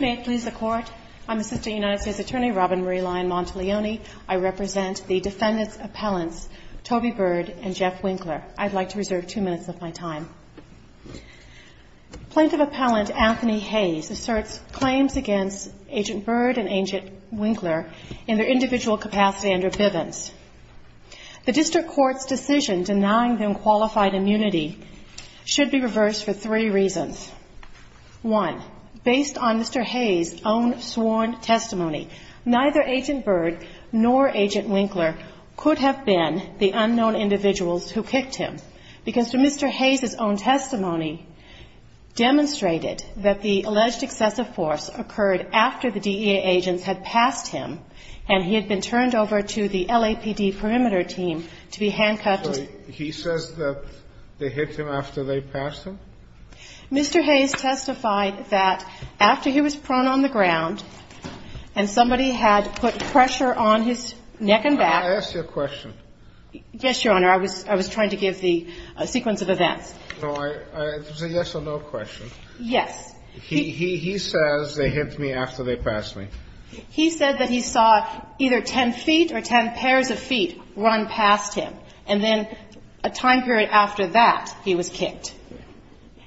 May it please the Court, I'm Assistant United States Attorney Robin Marie Lyon-Montiglioni. I represent the defendants' appellants, Toby Byrd and Jeff Winkler. I'd like to reserve two minutes of my time. Plaintiff appellant Anthony Hayes asserts claims against Agent Byrd and Agent Winkler in their individual capacity under Bivens. The District Court's decision denying them is based on Mr. Hayes' own sworn testimony. Neither Agent Byrd nor Agent Winkler could have been the unknown individuals who kicked him because, through Mr. Hayes' own testimony, demonstrated that the alleged excessive force occurred after the DEA agents had passed him and he had been turned over to the LAPD perimeter team to be handcuffed. He says that they hit him after they passed him? Mr. Hayes testified that after he was prone on the ground and somebody had put pressure on his neck and back. I asked you a question. Yes, Your Honor. I was trying to give the sequence of events. It was a yes or no question. Yes. He says they hit me after they passed me. He said that he saw either 10 feet or 10 pairs of feet run past him, and then a time period after that he was kicked.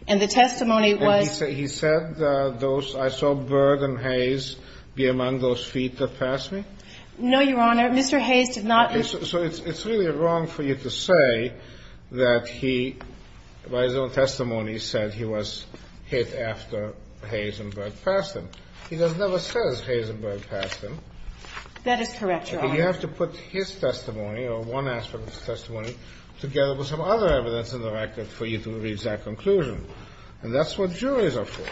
And the testimony was? And he said those – I saw Byrd and Hayes be among those feet that passed me? No, Your Honor. Mr. Hayes did not. So it's really wrong for you to say that he, by his own testimony, said he was hit after Hayes and Byrd passed him. He never says Hayes and Byrd passed him. That is correct, Your Honor. But you have to put his testimony or one aspect of his testimony together with some other evidence in the record for you to reach that conclusion. And that's what juries are for.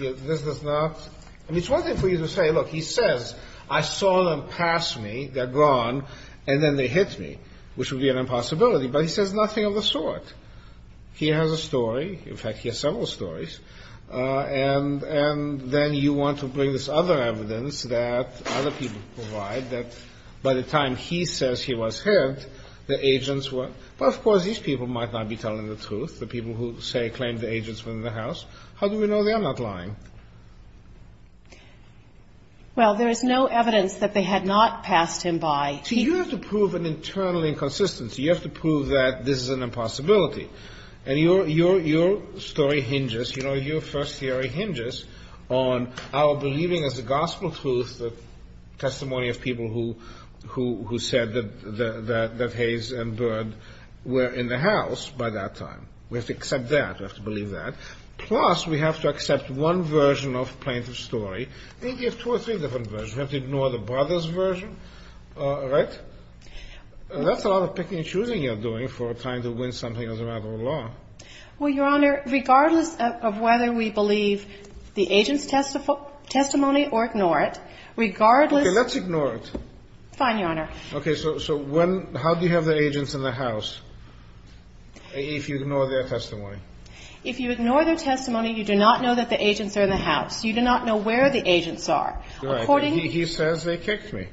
This does not – I mean, it's one thing for you to say, look, he says, I saw them pass me, they're gone, and then they hit me, which would be an impossibility. But he says nothing of the sort. He has a story. In fact, he has several stories. And then you want to bring this other evidence that other people provide, that by the time he says he was hit, the agents were – but, of course, these people might not be telling the truth, the people who, say, claim the agents were in the house. How do we know they are not lying? Well, there is no evidence that they had not passed him by. See, you have to prove an internal inconsistency. You have to prove that this is an impossibility. And your story hinges – you know, your first theory hinges on our believing as a gospel truth the testimony of people who said that Hayes and Byrd were in the house by that time. We have to accept that. We have to believe that. Plus, we have to accept one version of plaintiff's story. Maybe you have two or three different versions. You have to ignore the brothers' version, right? That's a lot of picking and choosing you're doing for trying to win something as a matter of law. Well, Your Honor, regardless of whether we believe the agents' testimony or ignore it, regardless – Okay. Let's ignore it. Fine, Your Honor. Okay. So when – how do you have the agents in the house if you ignore their testimony? If you ignore their testimony, you do not know that the agents are in the house. You do not know where the agents are. According to – He says they kicked me.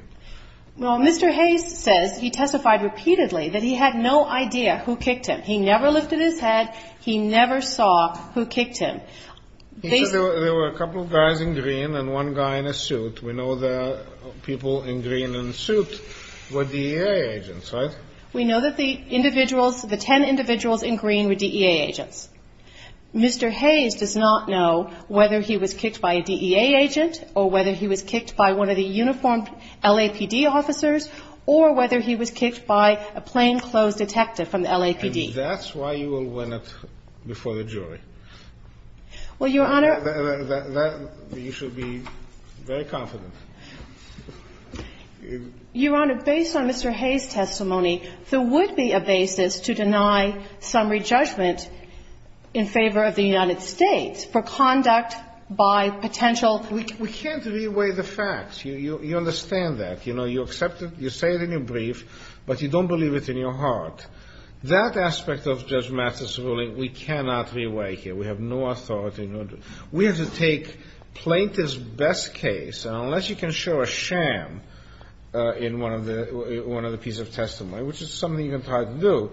Well, Mr. Hayes says he testified repeatedly that he had no idea who kicked him. He never lifted his head. He never saw who kicked him. He said there were a couple of guys in green and one guy in a suit. We know the people in green and suit were DEA agents, right? We know that the individuals, the ten individuals in green were DEA agents. Mr. Hayes does not know whether he was kicked by a DEA agent or whether he was kicked by one of the uniformed LAPD officers or whether he was kicked by a plainclothes detective from the LAPD. And that's why you will win it before the jury. Well, Your Honor – You should be very confident. Your Honor, based on Mr. Hayes' testimony, there would be a basis to deny summary judgment in favor of the United States for conduct by potential – Well, we can't re-weigh the facts. You understand that. You know, you accept it. You say it in your brief, but you don't believe it in your heart. That aspect of Judge Mathis' ruling we cannot re-weigh here. We have no authority. We have to take plaintiff's best case, and unless you can show a sham in one of the pieces of testimony, which is something you can try to do,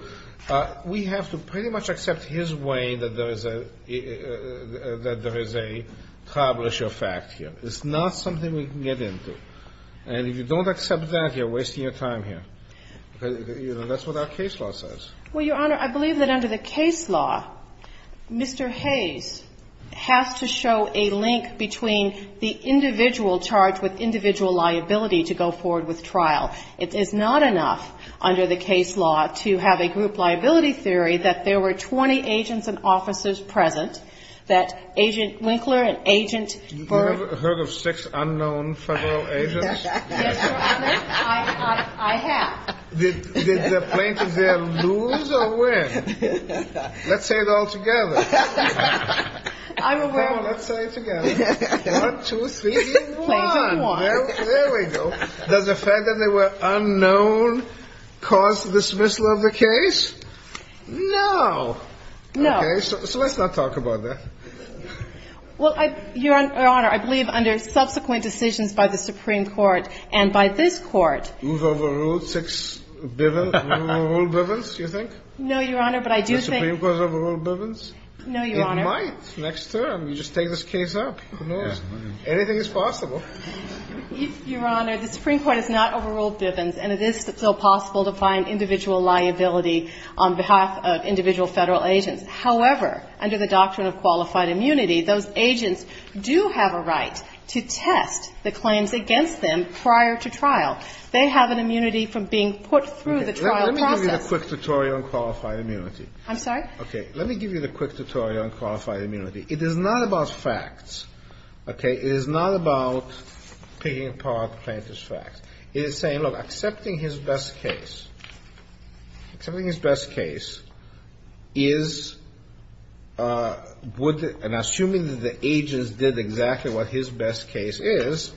we have to pretty much accept his way that there is a – that there is a tribal issue of fact here. It's not something we can get into. And if you don't accept that, you're wasting your time here. That's what our case law says. Well, Your Honor, I believe that under the case law, Mr. Hayes has to show a link between the individual charged with individual liability to go forward with trial. It is not enough under the case law to have a group liability theory that there were 20 agents and officers present, that Agent Winkler and Agent Byrd – Have you ever heard of six unknown federal agents? Yes, Your Honor. I have. Did the plaintiff there lose or win? Let's say it all together. I'm aware – Come on. Let's say it together. One, two, three. Plaintiff won. There we go. Does the fact that they were unknown cause the dismissal of the case? No. No. Okay, so let's not talk about that. Well, Your Honor, I believe under subsequent decisions by the Supreme Court and by this Court – Move over rule six – Move over rule Bivens, do you think? No, Your Honor, but I do think – Does the Supreme Court move over rule Bivens? No, Your Honor. It might next term. You just take this case up. Who knows? Anything is possible. Your Honor, the Supreme Court has not overruled Bivens, and it is still possible to find individual liability on behalf of individual federal agents. However, under the doctrine of qualified immunity, those agents do have a right to test the claims against them prior to trial. They have an immunity from being put through the trial process. Let me give you the quick tutorial on qualified immunity. I'm sorry? Okay. Let me give you the quick tutorial on qualified immunity. It is not about facts. Okay? It is not about picking apart plaintiff's facts. It is saying, look, accepting his best case – accepting his best case is – would – and assuming that the agents did exactly what his best case is,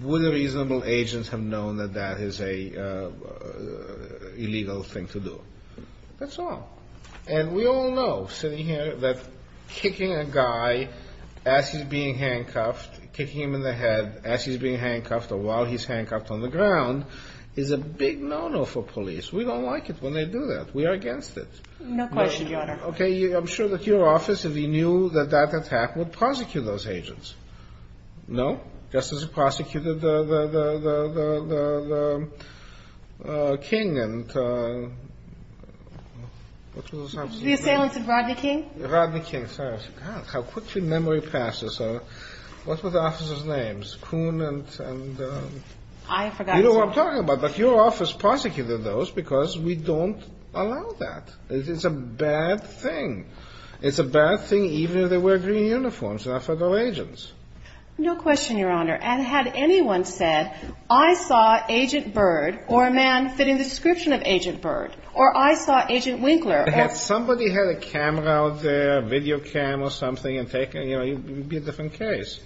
would the reasonable agents have known that that is an illegal thing to do? That's all. And we all know, sitting here, that kicking a guy as he's being handcuffed, kicking him in the head as he's being handcuffed or while he's handcuffed on the ground, is a big no-no for police. We don't like it when they do that. We are against it. No question, Your Honor. Okay. I'm sure that your office, if you knew that that attack would prosecute those agents. No? No. Just as it prosecuted the King and – what was the assailant's name? The assailant of Rodney King? Rodney King. Sorry, I forgot. How quickly memory passes. What were the officers' names? Kuhn and – I forgot as well. You know what I'm talking about. But your office prosecuted those because we don't allow that. It is a bad thing. It's a bad thing even if they wear green uniforms. They're not federal agents. No question, Your Honor. And had anyone said, I saw Agent Byrd or a man fitting the description of Agent Byrd or I saw Agent Winkler or – If somebody had a camera out there, a video cam or something and taken, you know, it would be a different case.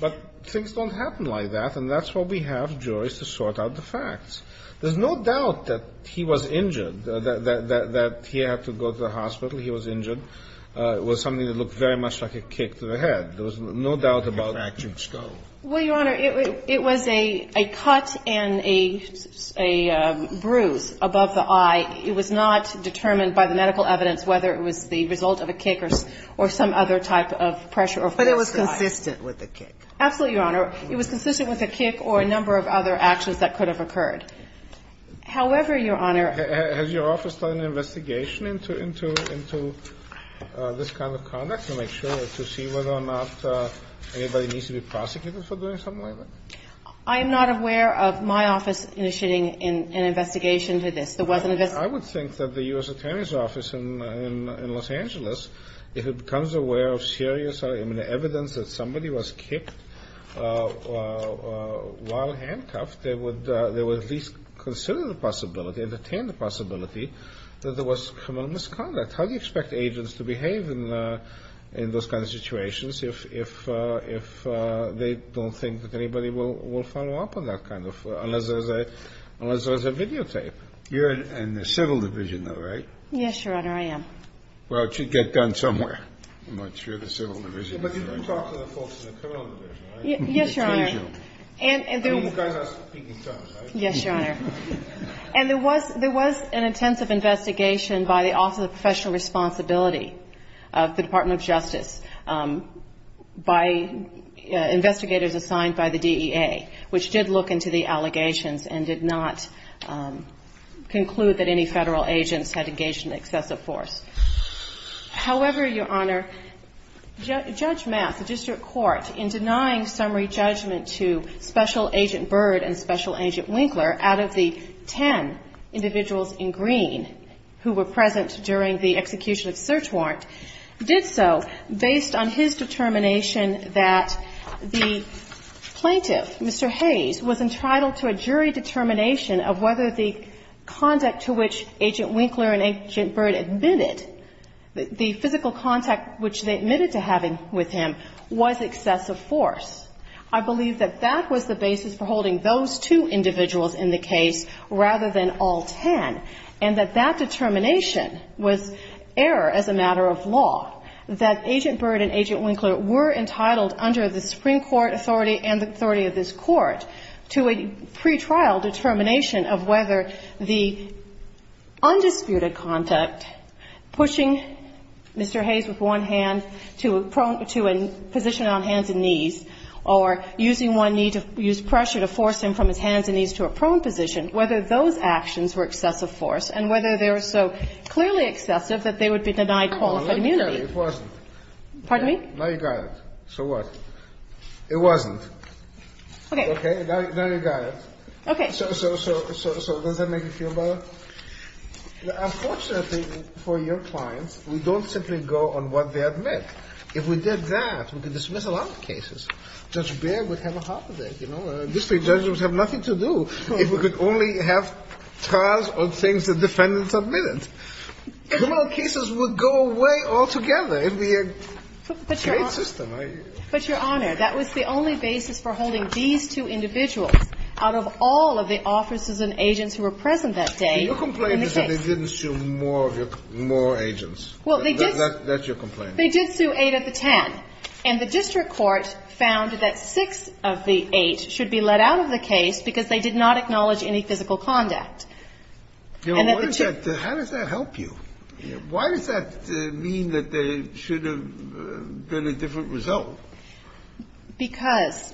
But things don't happen like that, and that's why we have juries to sort out the facts. There's no doubt that he was injured, that he had to go to the hospital. He was injured. It was something that looked very much like a kick to the head. There was no doubt about it. A fractured skull. Well, Your Honor, it was a cut and a bruise above the eye. It was not determined by the medical evidence whether it was the result of a kick or some other type of pressure or force to the eye. But it was consistent with a kick. Absolutely, Your Honor. It was consistent with a kick or a number of other actions that could have occurred. However, Your Honor – Has your office done an investigation into this kind of conduct to make sure to see whether or not anybody needs to be prosecuted for doing something like that? I am not aware of my office initiating an investigation into this. There wasn't a – I would think that the U.S. Attorney's Office in Los Angeles, if it becomes aware of serious evidence that somebody was kicked while handcuffed, they would at least consider the possibility, entertain the possibility that there was criminal misconduct. How do you expect agents to behave in those kinds of situations if they don't think that anybody will follow up on that kind of – unless there's a videotape? You're in the Civil Division, though, right? Yes, Your Honor, I am. Well, it should get done somewhere. I'm not sure the Civil Division is right. But you do talk to the folks in the Criminal Division, right? Yes, Your Honor. I mean, you guys are speaking in tongues, right? Yes, Your Honor. And there was an intensive investigation by the Office of Professional Responsibility of the Department of Justice by investigators assigned by the DEA, which did look into the allegations and did not conclude that any Federal agents had engaged in excessive force. However, Your Honor, Judge Mass, the district court, in denying summary judgment to Special Agent Byrd and Special Agent Winkler out of the ten individuals in green who were present during the execution of search warrant, did so based on his determination that the plaintiff, Mr. Hayes, was entitled to a jury determination of whether the conduct to which Agent Winkler and Agent Byrd admitted, the physical contact which they admitted to having with him, was excessive force. I believe that that was the basis for holding those two individuals in the case rather than all ten, and that that determination was error as a matter of law, that Agent Byrd and Agent Winkler were entitled under the Supreme Court authority and the authority of this Court to a pretrial determination of whether the undisputed conduct, pushing Mr. Hayes with one hand to a position on hands and knees, or using one knee to use pressure to force him from his hands and knees to a prone position, whether those actions were excessive force and whether they were so clearly excessive that they would be denied qualified immunity. Kennedy, it wasn't. Pardon me? Now you got it. So what? It wasn't. Okay. Now you got it. Okay. So does that make you feel better? Unfortunately for your clients, we don't simply go on what they admit. If we did that, we could dismiss a lot of cases. Judge Baird would have a heart attack, you know. District judges would have nothing to do if we could only have trials on things the defendants admitted. Criminal cases would go away altogether. It would be a great system. But, Your Honor, that was the only basis for holding these two individuals out of all of the officers and agents who were present that day in the case. You're complaining that they didn't sue more agents. Well, they did. That's your complaint. They did sue eight of the ten. And the district court found that six of the eight should be let out of the case because they did not acknowledge any physical conduct. And that the two of them. How does that help you? Why does that mean that there should have been a different result? Because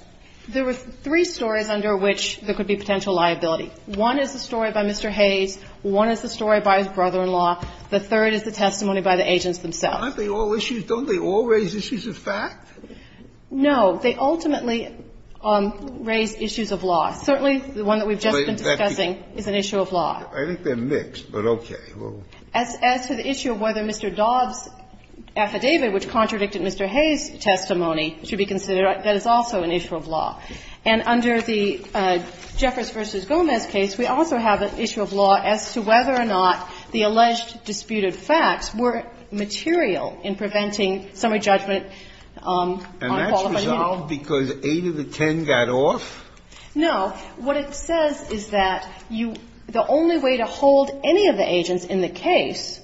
there were three stories under which there could be potential liability. One is the story by Mr. Hayes. One is the story by his brother-in-law. The third is the testimony by the agents themselves. Aren't they all issues? Don't they all raise issues of fact? No. They ultimately raise issues of law. Certainly the one that we've just been discussing is an issue of law. I think they're mixed, but okay. As to the issue of whether Mr. Dobbs' affidavit, which contradicted Mr. Hayes' testimony, should be considered, that is also an issue of law. And under the Jeffers v. Gomez case, we also have an issue of law as to whether or not the alleged disputed facts were material in preventing summary judgment on qualified immunity. And that's resolved because eight of the ten got off? No. What it says is that you the only way to hold any of the agents in the case,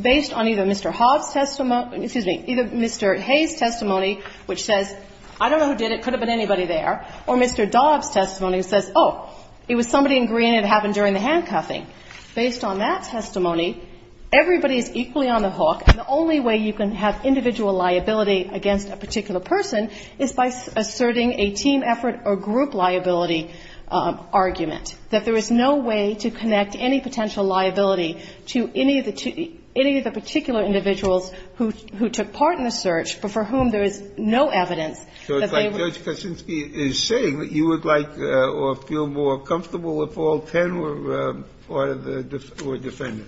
based on either Mr. Hobbs' testimony or, excuse me, either Mr. Hayes' testimony, which says, I don't know who did it, could have been anybody there, or Mr. Dobbs' testimony that says, oh, it was somebody in Green that happened during the handcuffing. Based on that testimony, everybody is equally on the hook. And the only way you can have individual liability against a particular person is by asserting a team effort or group liability argument, that there is no way to connect any potential liability to any of the particular individuals who took part in the search but for whom there is no evidence that they were. So Judge Kaczynski is saying that you would like or feel more comfortable if all ten were part of the defender?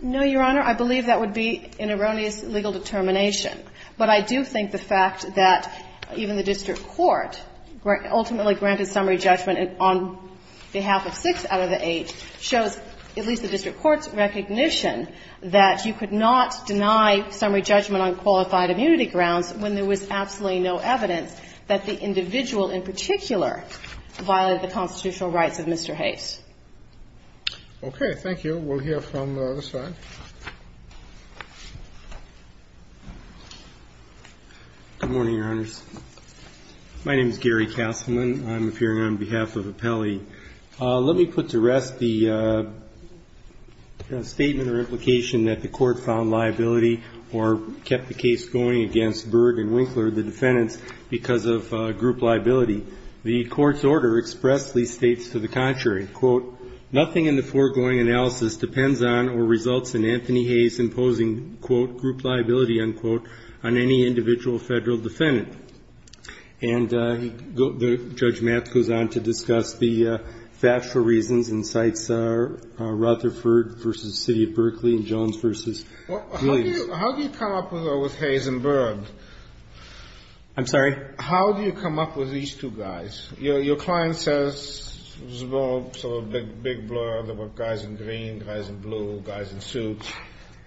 No, Your Honor. I believe that would be an erroneous legal determination. But I do think the fact that even the district court ultimately granted summary judgment on behalf of six out of the eight shows at least the district court's recognition that you could not deny summary judgment on qualified immunity grounds when there was absolutely no evidence that the individual in particular violated the constitutional rights of Mr. Hayes. Okay. Thank you. We'll hear from this side. Good morning, Your Honors. My name is Gary Kasselman. I'm appearing on behalf of Appelli. Let me put to rest the statement or implication that the Court found liability or kept the case going against Berg and Winkler, the defendants, because of group liability. The Court's order expressly states to the contrary, quote, nothing in the foregoing analysis depends on or results in Anthony Hayes imposing, quote, group liability, unquote, on any individual Federal defendant. And Judge Matz goes on to discuss the factual reasons and cites Rutherford versus the City of Berkeley and Jones versus Williams. How do you come up with Hayes and Berg? I'm sorry? How do you come up with these two guys? Your client says it was a big blur. There were guys in green, guys in blue, guys in suits.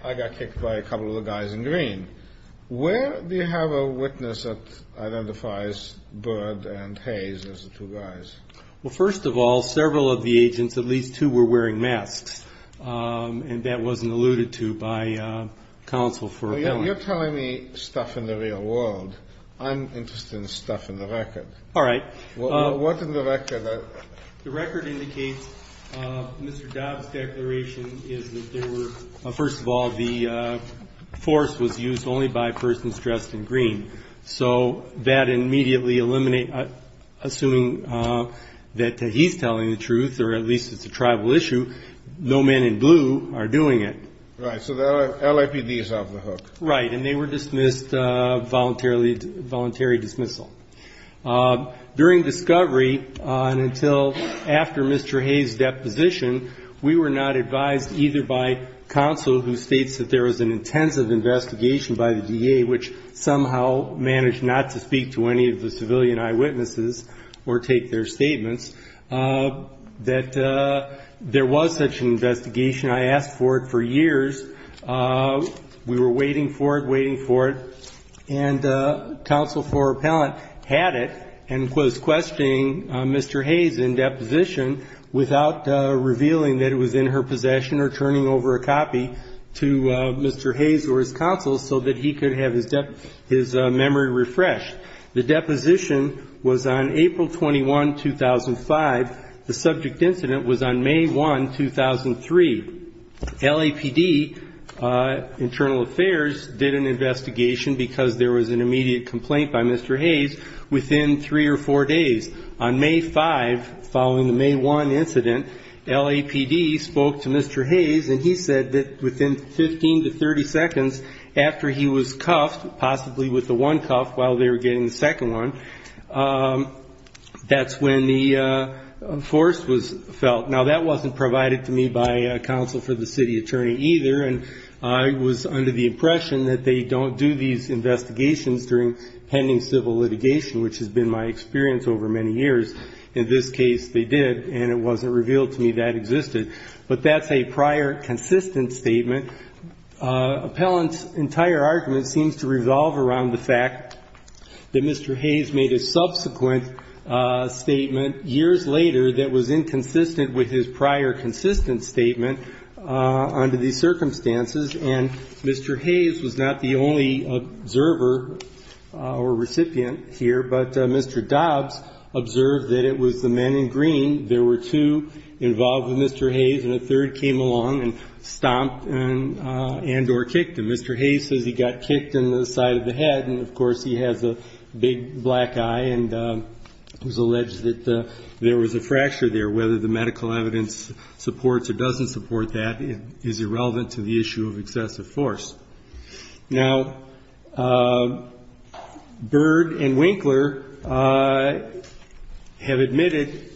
I got kicked by a couple of the guys in green. Where do you have a witness that identifies Berg and Hayes as the two guys? Well, first of all, several of the agents, at least two, were wearing masks, and that wasn't alluded to by counsel for appellant. Well, you're telling me stuff in the real world. I'm interested in stuff in the record. All right. What in the record? The record indicates Mr. Dobbs' declaration is that there were, first of all, the force was used only by persons dressed in green. So that immediately eliminates, assuming that he's telling the truth, or at least it's a tribal issue, no men in blue are doing it. Right. So the LAPD is off the hook. Right. And they were dismissed, voluntary dismissal. During discovery and until after Mr. Hayes' deposition, we were not advised either by counsel, who states that there was an intensive investigation by the DA, which somehow managed not to speak to any of the civilian eyewitnesses or take their statements, that there was such an investigation. I asked for it for years. We were waiting for it, waiting for it, and counsel for appellant had it and was questioning Mr. Hayes in deposition without revealing that it was in her possession or turning over a copy to Mr. Hayes or his counsel so that he could have his memory refreshed. The deposition was on April 21, 2005. The subject incident was on May 1, 2003. LAPD Internal Affairs did an investigation because there was an immediate complaint by Mr. Hayes within three or four days. On May 5, following the May 1 incident, LAPD spoke to Mr. Hayes and he said that within 15 to 30 seconds after he was cuffed, possibly with the one cuff while they were getting the second one, that's when the force was felt. Now, that wasn't provided to me by counsel for the city attorney either, and I was under the impression that they don't do these investigations during pending civil litigation, which has been my experience over many years. In this case, they did, and it wasn't revealed to me that existed. But that's a prior consistent statement. The appellant's entire argument seems to revolve around the fact that Mr. Hayes made a subsequent statement years later that was inconsistent with his prior consistent statement under these circumstances, and Mr. Hayes was not the only observer or recipient here, but Mr. Dobbs observed that it was the men in green. There were two involved with Mr. Hayes, and a third came along and stomped and or kicked him. Mr. Hayes says he got kicked in the side of the head, and of course he has a big black eye and was alleged that there was a fracture there. Whether the medical evidence supports or doesn't support that is irrelevant to the issue of excessive force. Now, Bird and Winkler have admitted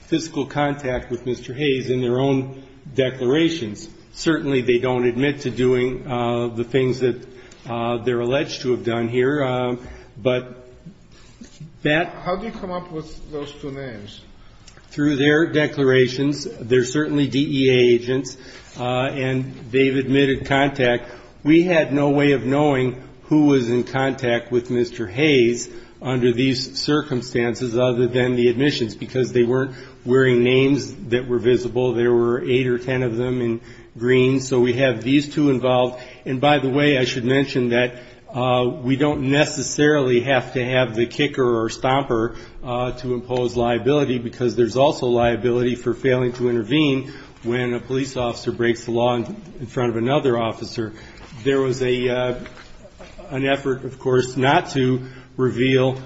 physical contact with Mr. Hayes in their own declarations. Certainly they don't admit to doing the things that they're alleged to have done here. But that ---- How do you come up with those two names? Through their declarations. They're certainly DEA agents, and they've admitted contact. We had no way of knowing who was in contact with Mr. Hayes under these circumstances other than the admissions, because they weren't wearing names that were visible. There were eight or ten of them in green. So we have these two involved. And by the way, I should mention that we don't necessarily have to have the kicker or stomper to impose liability because there's also liability for failing to intervene when a police officer breaks the law in front of another officer. There was an effort, of course, not to reveal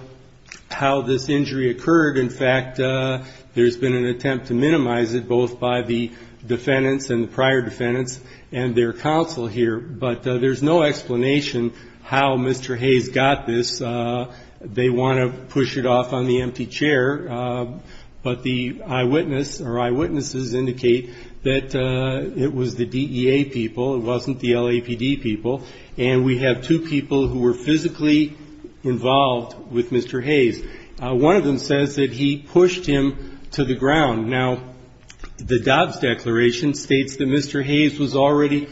how this injury occurred. In fact, there's been an attempt to minimize it both by the defendants and the prior defendants and their counsel here. But there's no explanation how Mr. Hayes got this. They want to push it off on the empty chair. But the eyewitness or eyewitnesses indicate that it was the DEA people. It wasn't the LAPD people. And we have two people who were physically involved with Mr. Hayes. One of them says that he pushed him to the ground. Now, the Dobbs Declaration states that Mr. Hayes was already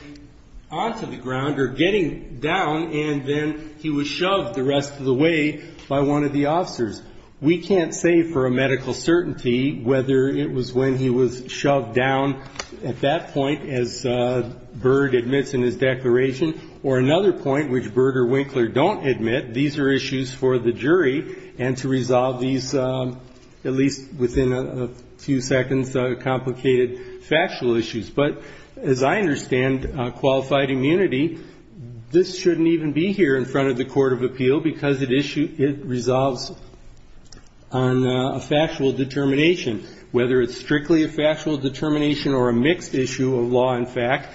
onto the ground or getting down, and then he was shoved the rest of the way by one of the officers. We can't say for a medical certainty whether it was when he was shoved down at that point as Byrd admits in his declaration, or another point which Byrd or Winkler don't admit. These are issues for the jury, and to resolve these, at least within a few seconds, are complicated factual issues. But as I understand qualified immunity, this shouldn't even be here in front of the court of appeal because it resolves on a factual determination, whether it's strictly a factual determination or a mixed issue of law and fact.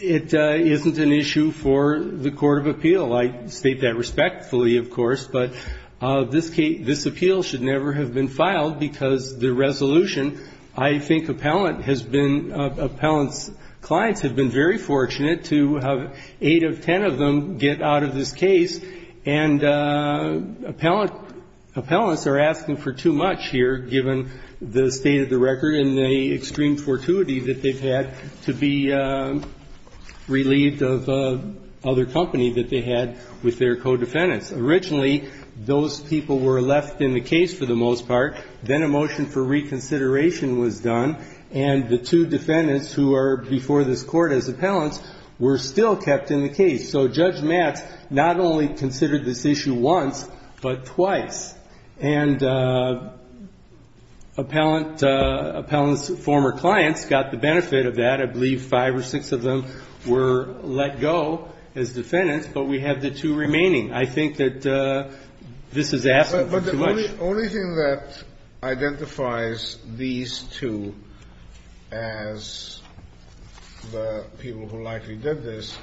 It isn't an issue for the court of appeal. I state that respectfully, of course, but this appeal should never have been filed because the resolution, I think appellants' clients have been very fortunate to have eight of ten of them get out of this case. And appellants are asking for too much here, given the state of the record and the extreme fortuity that they've had to be relieved of other company that they had with their co-defendants. Originally, those people were left in the case for the most part. Then a motion for reconsideration was done, and the two defendants who are before this court as appellants were still kept in the case. So Judge Matz not only considered this issue once, but twice. And appellants' former clients got the benefit of that. I believe five or six of them were let go as defendants, but we have the two remaining. I think that this is asking for too much. The only thing that identifies these two as the people who likely did this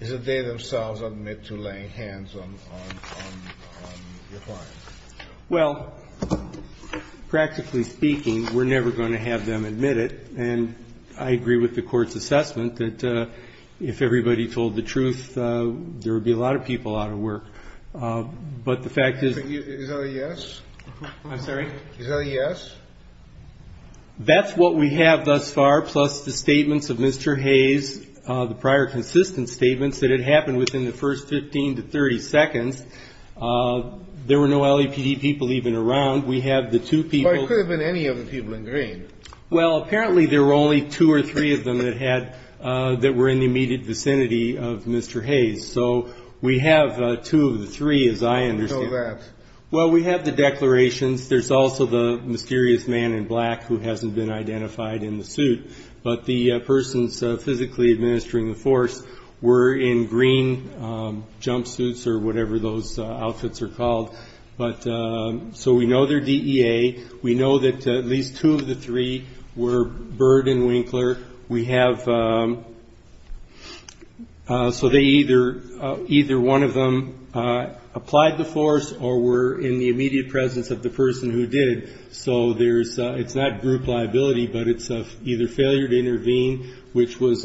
is that they themselves admit to laying hands on your client. Well, practically speaking, we're never going to have them admit it. And I agree with the Court's assessment that if everybody told the truth, there would be a lot of people out of work. But the fact is that they admitted. I'm sorry? Is that a yes? That's what we have thus far, plus the statements of Mr. Hayes, the prior consistent statements that it happened within the first 15 to 30 seconds. There were no LAPD people even around. We have the two people. But it could have been any of the people in green. Well, apparently there were only two or three of them that were in the immediate vicinity of Mr. Hayes. So we have two of the three, as I understand. So that's. Well, we have the declarations. There's also the mysterious man in black who hasn't been identified in the suit. But the persons physically administering the force were in green jumpsuits or whatever those outfits are called. So we know their DEA. We know that at least two of the three were Byrd and Winkler. We have. So they either either one of them applied the force or were in the immediate presence of the person who did. So there's it's not group liability, but it's either failure to intervene, which was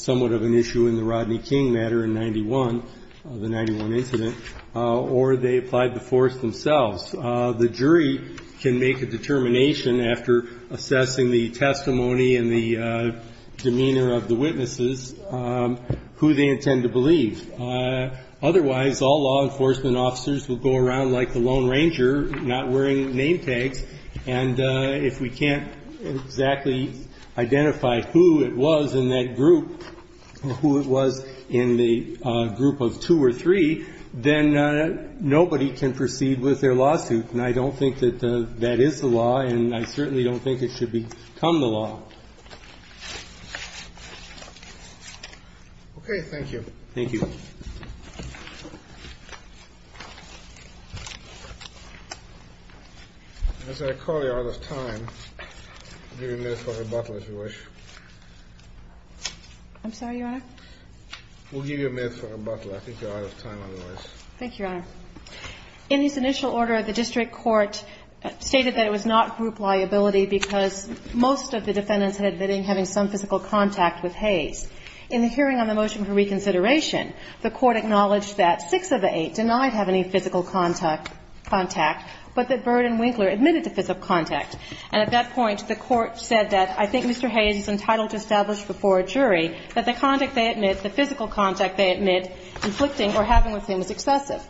somewhat of an issue in the Rodney King matter in 91, the 91 incident, or they applied the force themselves. The jury can make a determination after assessing the testimony and the demeanor of the witnesses who they intend to believe. Otherwise, all law enforcement officers will go around like the Lone Ranger, not wearing name tags. And if we can't exactly identify who it was in that group, who it was in the group of two or three, then nobody can proceed with their lawsuit. And I don't think that that is the law, and I certainly don't think it should become the law. Okay. Thank you. Thank you. As I recall, you're out of time. I'll give you a minute for rebuttal, if you wish. We'll give you a minute for rebuttal. I think you're out of time otherwise. Thank you, Your Honor. In this initial order, the district court stated that it was not group liability because most of the defendants had been having some physical contact with Hayes. In the hearing on the motion for reconsideration, the Court acknowledged that six of the eight denied having any physical contact, but that Byrd and Winkler admitted to physical contact. And at that point, the Court said that I think Mr. Hayes is entitled to establish before a jury that the contact they admit, the physical contact they admit, inflicting or having with him is excessive.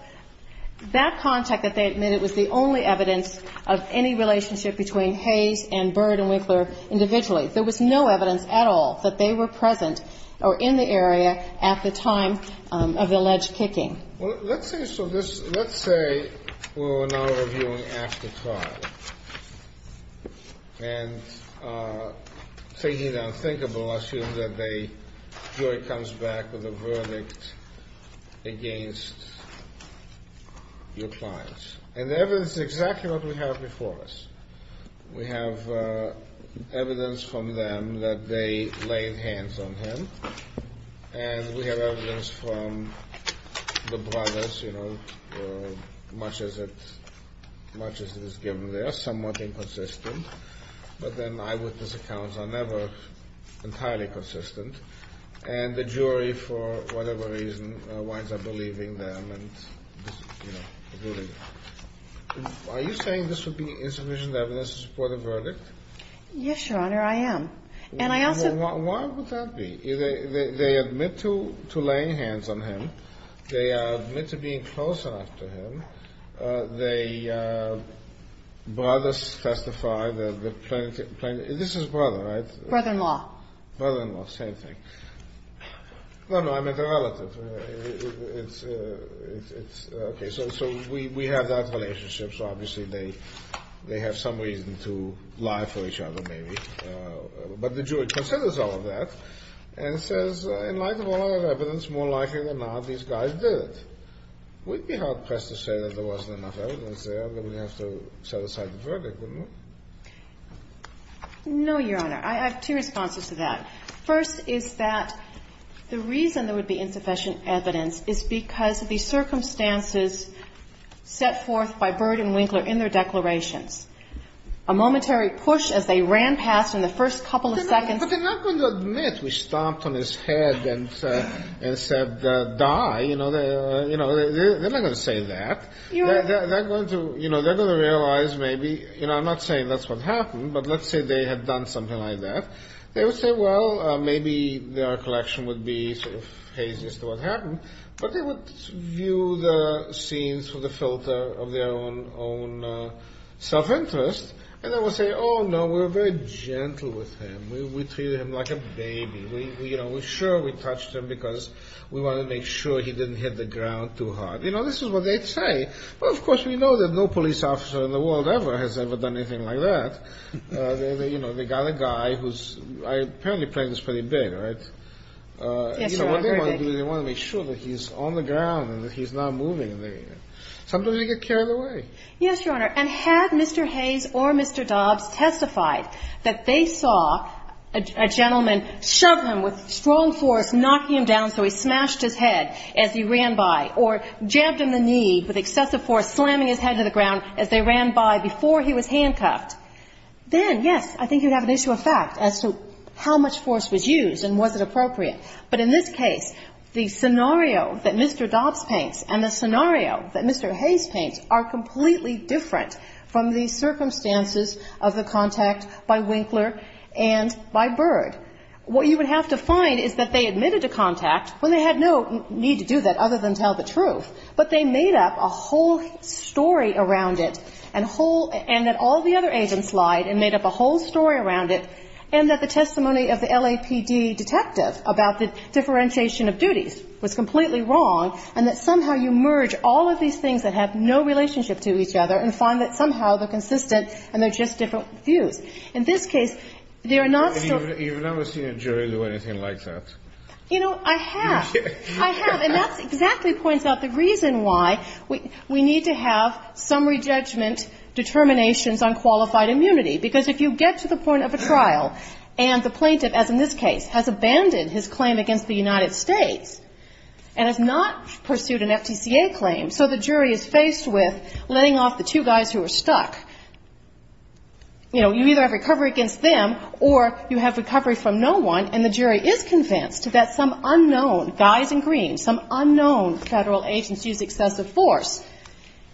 That contact that they admitted was the only evidence of any relationship between Hayes and Byrd and Winkler individually. There was no evidence at all that they were present or in the area at the time of the alleged kicking. Well, let's say we're now reviewing after trial. And taking it unthinkable, assume that the jury comes back with a verdict against your clients. And the evidence is exactly what we have before us. We have evidence from them that they laid hands on him, and we have evidence from the brothers, you know, much as it is given there. Somewhat inconsistent. But then eyewitness accounts are never entirely consistent. And the jury, for whatever reason, winds up believing them and, you know, ruling it. Are you saying this would be insufficient evidence to support a verdict? Yes, Your Honor, I am. And I also think Well, why would that be? They admit to laying hands on him. They admit to being close enough to him. The brothers testify. This is brother, right? Brother-in-law. Brother-in-law. Same thing. No, no, I meant a relative. Okay, so we have that relationship. So obviously they have some reason to lie for each other, maybe. But the jury considers all of that and says, in light of all our evidence, more likely than not, these guys did it. We'd be hard-pressed to say that there wasn't enough evidence there, that we'd have to set aside the verdict, wouldn't we? No, Your Honor. I have two responses to that. First is that the reason there would be insufficient evidence is because the circumstances set forth by Byrd and Winkler in their declarations, a momentary push as they ran past in the first couple of seconds. But they're not going to admit we stomped on his head and said, die. They're not going to say that. They're going to realize maybe, I'm not saying that's what happened, but let's say they had done something like that. They would say, well, maybe their collection would be hazy as to what happened. But they would view the scenes through the filter of their own self-interest. And they would say, oh, no, we were very gentle with him. We treated him like a baby. We were sure we touched him because we wanted to make sure he didn't hit the ground too hard. You know, this is what they'd say. But, of course, we know that no police officer in the world ever has ever done anything like that. They got a guy who's apparently pregnant pretty big, right? Yes, Your Honor, very big. They want to make sure that he's on the ground and that he's not moving. Sometimes they get carried away. Yes, Your Honor. And had Mr. Hayes or Mr. Dobbs testified that they saw a gentleman shove him with strong force, knocking him down so he smashed his head as he ran by, or jabbed him in the knee with excessive force, slamming his head to the ground as they ran by before he was handcuffed, then, yes, I think you'd have an issue of fact as to how much force was used and was it appropriate. But in this case, the scenario that Mr. Dobbs paints and the scenario that Mr. Hayes paints are completely different from the circumstances of the contact by Winkler and by Byrd. What you would have to find is that they admitted to contact when they had no need to do that other than tell the truth. But they made up a whole story around it and that all the other agents lied and made up a whole story around it and that the testimony of the LAPD detective about the differentiation of duties was completely wrong and that somehow you merge all of these things that have no relationship to each other and find that somehow they're consistent and they're just different views. In this case, they are not so. Kennedy, you've never seen a jury do anything like that. You know, I have. I have. And that exactly points out the reason why we need to have summary judgment determinations on qualified immunity, because if you get to the point of a trial where the jury is faced with letting off the two guys who were stuck, you know, you either have recovery against them or you have recovery from no one and the jury is convinced that some unknown guys in green, some unknown federal agents used excessive force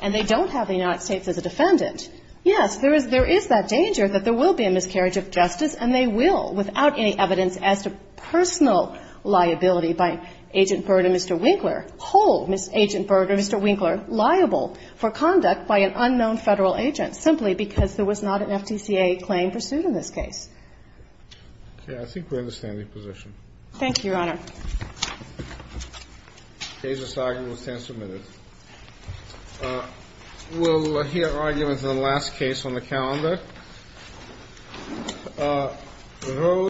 and they don't have the United States as a defendant. Yes, there is that danger that there will be a miscarriage of justice and they will without any evidence as to personal liability by Agent Byrd and Mr. Winkler. Hold Agent Byrd or Mr. Winkler liable for conduct by an unknown federal agent simply because there was not an FTCA claim pursued in this case. Okay. I think we're in the standing position. Thank you, Your Honor. The case is signed and will stand submitted. We'll hear arguments in the last case on the calendar. Those.